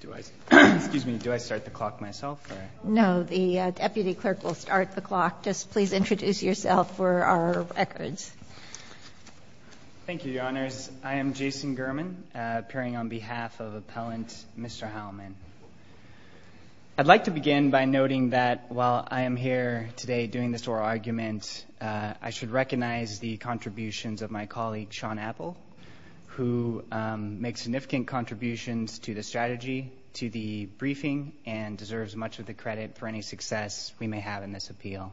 Do I start the clock myself? No, the deputy clerk will start the clock. Just please introduce yourself for our records. Thank you, Your Honors. I am Jason Gurman, appearing on behalf of Appellant Mr. Heilman. I'd like to begin by noting that while I am here today doing this oral argument, I should recognize the contributions of my colleague, Sean Apple, who makes significant contributions to the strategy, to the briefing, and deserves much of the credit for any success we may have in this appeal.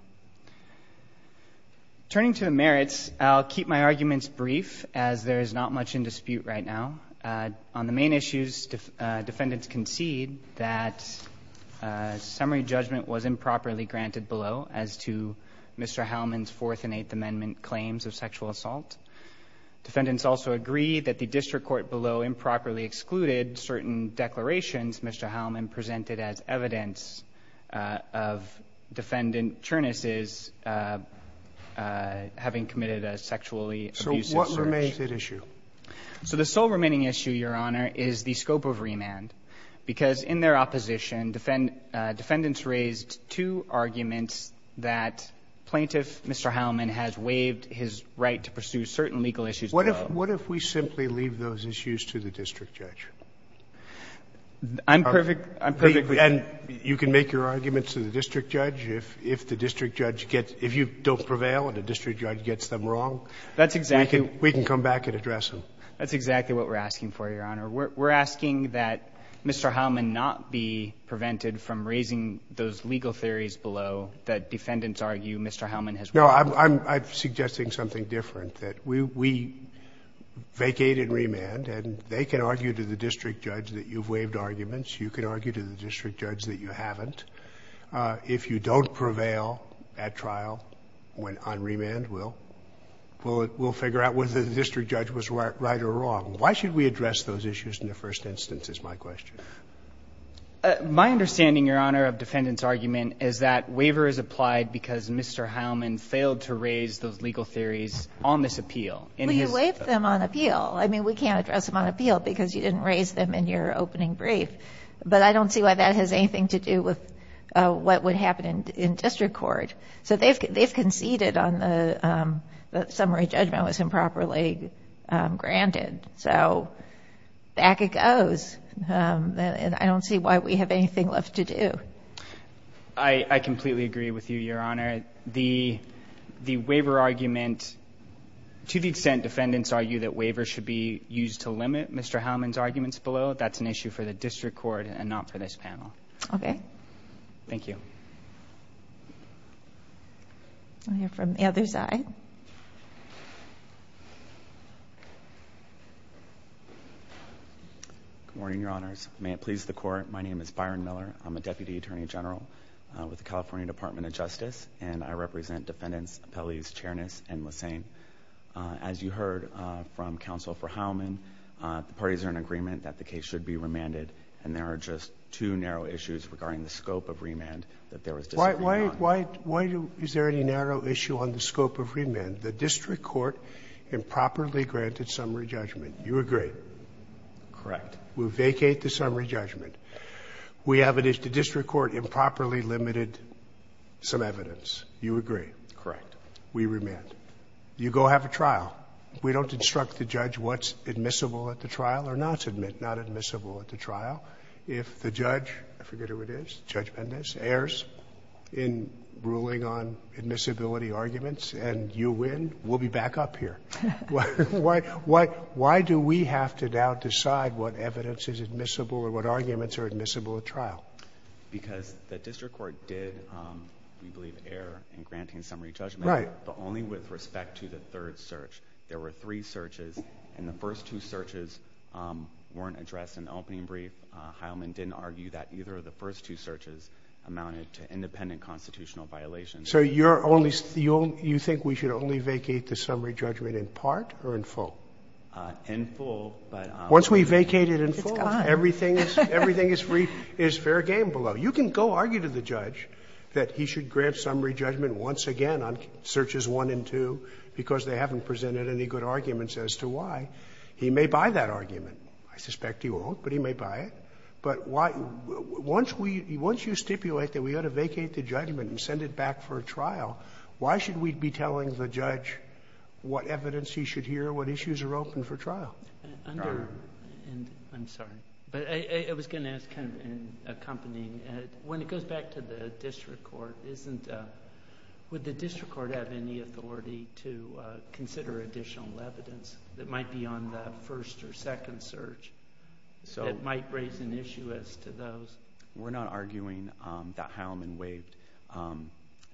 Turning to the merits, I'll keep my arguments brief, as there is not much in dispute right now. On the main issues, defendants concede that summary judgment was improperly granted below, as to Mr. Heilman's Fourth and Eighth Amendment claims of sexual assault. Defendants also agree that the district court below improperly excluded certain declarations Mr. Heilman presented as evidence of defendant Cherniss' having committed a sexually abusive search. So what remains at issue? So the sole remaining issue, Your Honor, is the scope of remand, because in their opposition, defendants raised two arguments that plaintiff Mr. Heilman has waived his right to pursue certain legal issues below. What if we simply leave those issues to the district judge? I'm perfectly – And you can make your arguments to the district judge. If the district judge gets – if you don't prevail and the district judge gets them wrong, we can come back and address them. That's exactly what we're asking for, Your Honor. We're asking that Mr. Heilman not be prevented from raising those legal theories below that defendants argue Mr. Heilman has waived. No, I'm suggesting something different, that we vacate in remand and they can argue to the district judge that you've waived arguments. You can argue to the district judge that you haven't. If you don't prevail at trial on remand, we'll figure out whether the district judge was right or wrong. Why should we address those issues in the first instance is my question. My understanding, Your Honor, of defendants' argument is that waiver is applied because Mr. Heilman failed to raise those legal theories on this appeal. Well, you waived them on appeal. I mean, we can't address them on appeal because you didn't raise them in your opening brief. But I don't see why that has anything to do with what would happen in district court. So they've conceded on the summary judgment was improperly granted. So back it goes. And I don't see why we have anything left to do. I completely agree with you, Your Honor. The waiver argument, to the extent defendants argue that waivers should be used to limit Mr. Heilman's arguments below, that's an issue for the district court and not for this panel. Okay. Thank you. I'll hear from the other side. Good morning, Your Honors. May it please the Court, my name is Byron Miller. I'm a deputy attorney general with the California Department of Justice, and I represent defendants, appellees, Chernas, and Lesane. As you heard from Counsel for Heilman, the parties are in agreement that the case should be remanded, and there are just two narrow issues regarding the scope of remand that there was disagreement on. Why is there any narrow issue on the scope of remand? The district court improperly granted summary judgment. You agree. Correct. We vacate the summary judgment. We have it as the district court improperly limited some evidence. You agree. Correct. We remand. You go have a trial. We don't instruct the judge what's admissible at the trial or not admissible at the trial. If the judge, I forget who it is, judgment is, errs in ruling on admissibility arguments and you win, we'll be back up here. Why do we have to now decide what evidence is admissible or what arguments are admissible at trial? Because the district court did, we believe, err in granting summary judgment. Right. But only with respect to the third search. There were three searches, and the first two searches weren't addressed in the opening brief. Heilman didn't argue that either of the first two searches amounted to independent constitutional violations. So you're only, you think we should only vacate the summary judgment in part or in full? In full, but. Once we vacate it in full. It's gone. Everything is free, it's fair game below. You can go argue to the judge that he should grant summary judgment once again on searches one and two because they haven't presented any good arguments as to why. He may buy that argument. I suspect he won't, but he may buy it. But why, once we, once you stipulate that we ought to vacate the judgment and send it back for a trial, why should we be telling the judge what evidence he should hear, what issues are open for trial? I'm sorry, but I was going to ask, kind of accompanying, when it goes back to the district court, isn't, would the district court have any authority to consider additional evidence that might be on that first or second search that might raise an issue as to those? We're not arguing that Heilman waived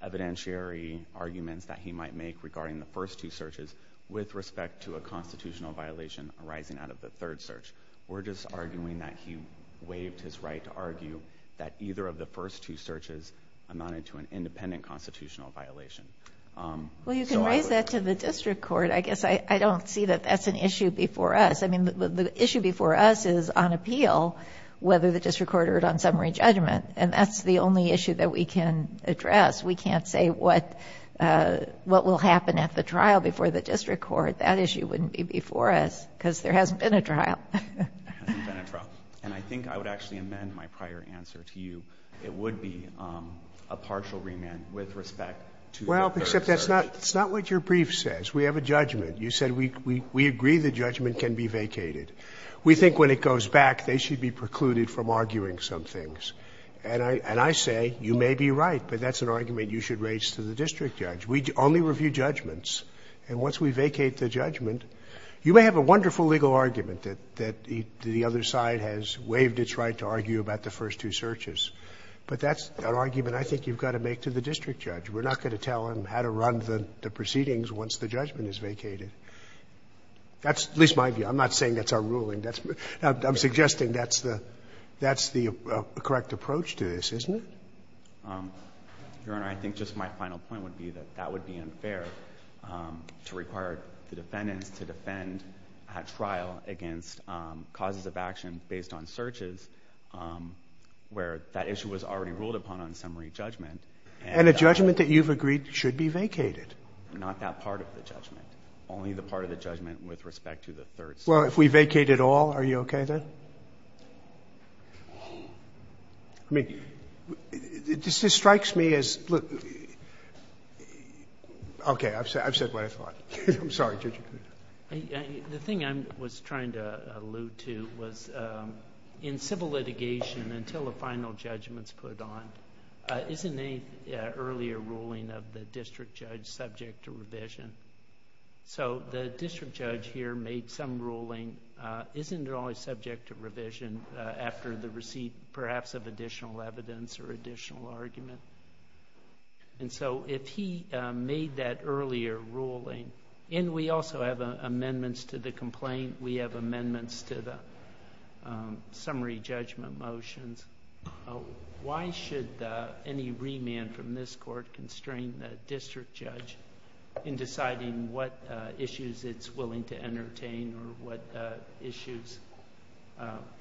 evidentiary arguments that he might make regarding the first two searches with respect to a constitutional violation arising out of the third search. We're just arguing that he waived his right to argue that either of the first two searches amounted to an independent constitutional violation. Well, you can raise that to the district court. I guess I don't see that that's an issue before us. I mean, the issue before us is on appeal whether the district court heard on summary judgment, and that's the only issue that we can address. We can't say what will happen at the trial before the district court. That issue wouldn't be before us because there hasn't been a trial. It hasn't been a trial. And I think I would actually amend my prior answer to you. It would be a partial remand with respect to the first search. We have a judgment. You said we agree the judgment can be vacated. We think when it goes back, they should be precluded from arguing some things. And I say you may be right, but that's an argument you should raise to the district judge. We only review judgments. And once we vacate the judgment, you may have a wonderful legal argument that the other side has waived its right to argue about the first two searches, but that's an argument I think you've got to make to the district judge. We're not going to tell him how to run the proceedings once the judgment is vacated. That's at least my view. I'm not saying that's our ruling. I'm suggesting that's the correct approach to this, isn't it? Your Honor, I think just my final point would be that that would be unfair to require the defendants to defend at trial against causes of action based on searches where that issue was already ruled upon on summary judgment. And a judgment that you've agreed should be vacated. Not that part of the judgment. Only the part of the judgment with respect to the third search. Well, if we vacate it all, are you okay then? I mean, this strikes me as – okay. I've said what I thought. I'm sorry, Judge. The thing I was trying to allude to was in civil litigation until a final judgment is put on, isn't any earlier ruling of the district judge subject to revision? So the district judge here made some ruling. Isn't it always subject to revision after the receipt perhaps of additional evidence or additional argument? And so if he made that earlier ruling – and we also have amendments to the complaint. We have amendments to the summary judgment motions. Why should any remand from this court constrain the district judge in deciding what issues it's willing to entertain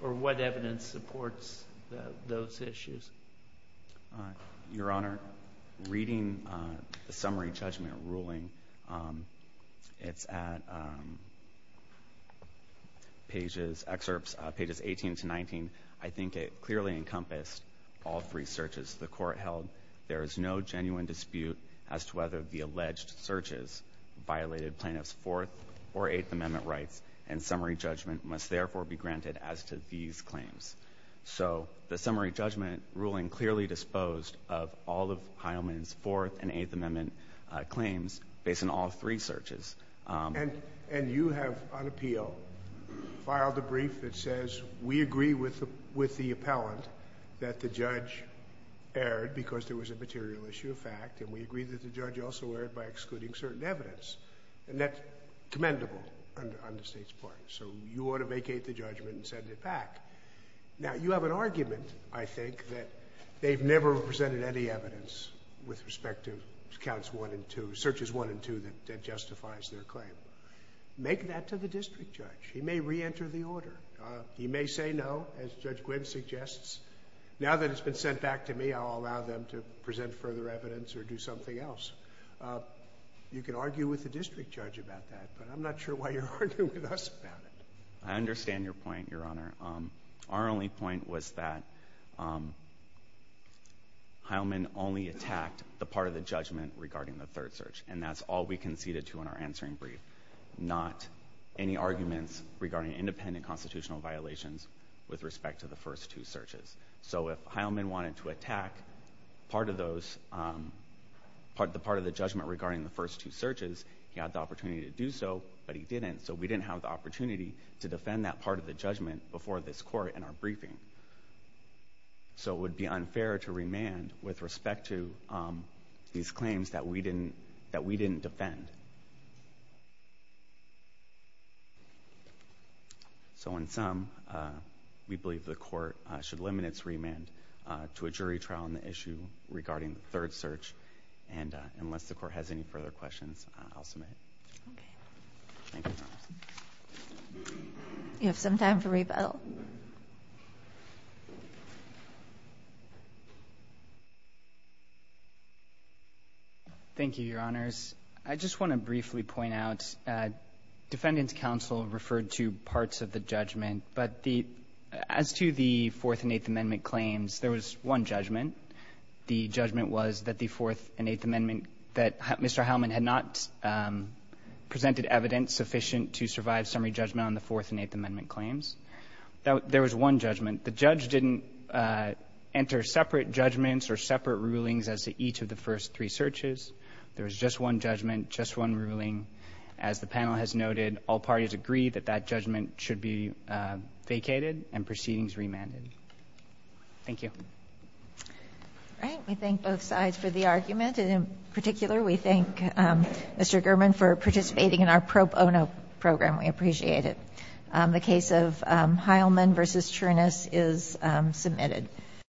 or what evidence supports those issues? Your Honor, reading the summary judgment ruling, it's at pages – excerpts pages 18 to 19. I think it clearly encompassed all three searches the court held. There is no genuine dispute as to whether the alleged searches violated plaintiff's Fourth or Eighth Amendment rights, and summary judgment must therefore be granted as to these claims. So the summary judgment ruling clearly disposed of all of Heilman's Fourth and Eighth Amendment claims based on all three searches. And you have, on appeal, filed a brief that says we agree with the appellant that the judge erred because there was a material issue of fact, and we agree that the judge also erred by excluding certain evidence. And that's commendable on the State's part. So you ought to vacate the judgment and send it back. Now, you have an argument, I think, that they've never presented any evidence with respect to counts one and two – searches one and two that justifies their claim. Make that to the district judge. He may reenter the order. He may say no, as Judge Gwynne suggests. Now that it's been sent back to me, I'll allow them to present further evidence or do something else. You can argue with the district judge about that, but I'm not sure why you're arguing with us about it. I understand your point, Your Honor. Our only point was that Heilman only attacked the part of the judgment regarding the third search, and that's all we conceded to in our answering brief, not any arguments regarding independent constitutional violations with respect to the first two searches. So if Heilman wanted to attack part of those – the part of the judgment regarding the first two searches, he had the opportunity to do so, but he didn't. So we didn't have the opportunity to defend that part of the judgment before this Court in our briefing. So it would be unfair to remand with respect to these claims that we didn't defend. So in sum, we believe the Court should limit its remand to a jury trial on the issue regarding the third search. And unless the Court has any further questions, I'll submit it. Okay. Thank you, Your Honor. You have some time for rebuttal. Thank you, Your Honors. I just want to briefly point out, Defendant's counsel referred to parts of the judgment, but the – as to the Fourth and Eighth Amendment claims, there was one judgment. The judgment was that the Fourth and Eighth Amendment – that Mr. Heilman had not presented evidence sufficient to survive summary judgment on the Fourth and Eighth Amendment claims. There was one judgment. The judge didn't enter separate judgments or separate rulings as to each of the first three searches. There was just one judgment, just one ruling. As the panel has noted, all parties agree that that judgment should be vacated and proceedings remanded. Thank you. All right. We thank both sides for the argument. And in particular, we thank Mr. Gurman for participating in our pro bono program. We appreciate it. The case of Heilman v. Chernis is submitted.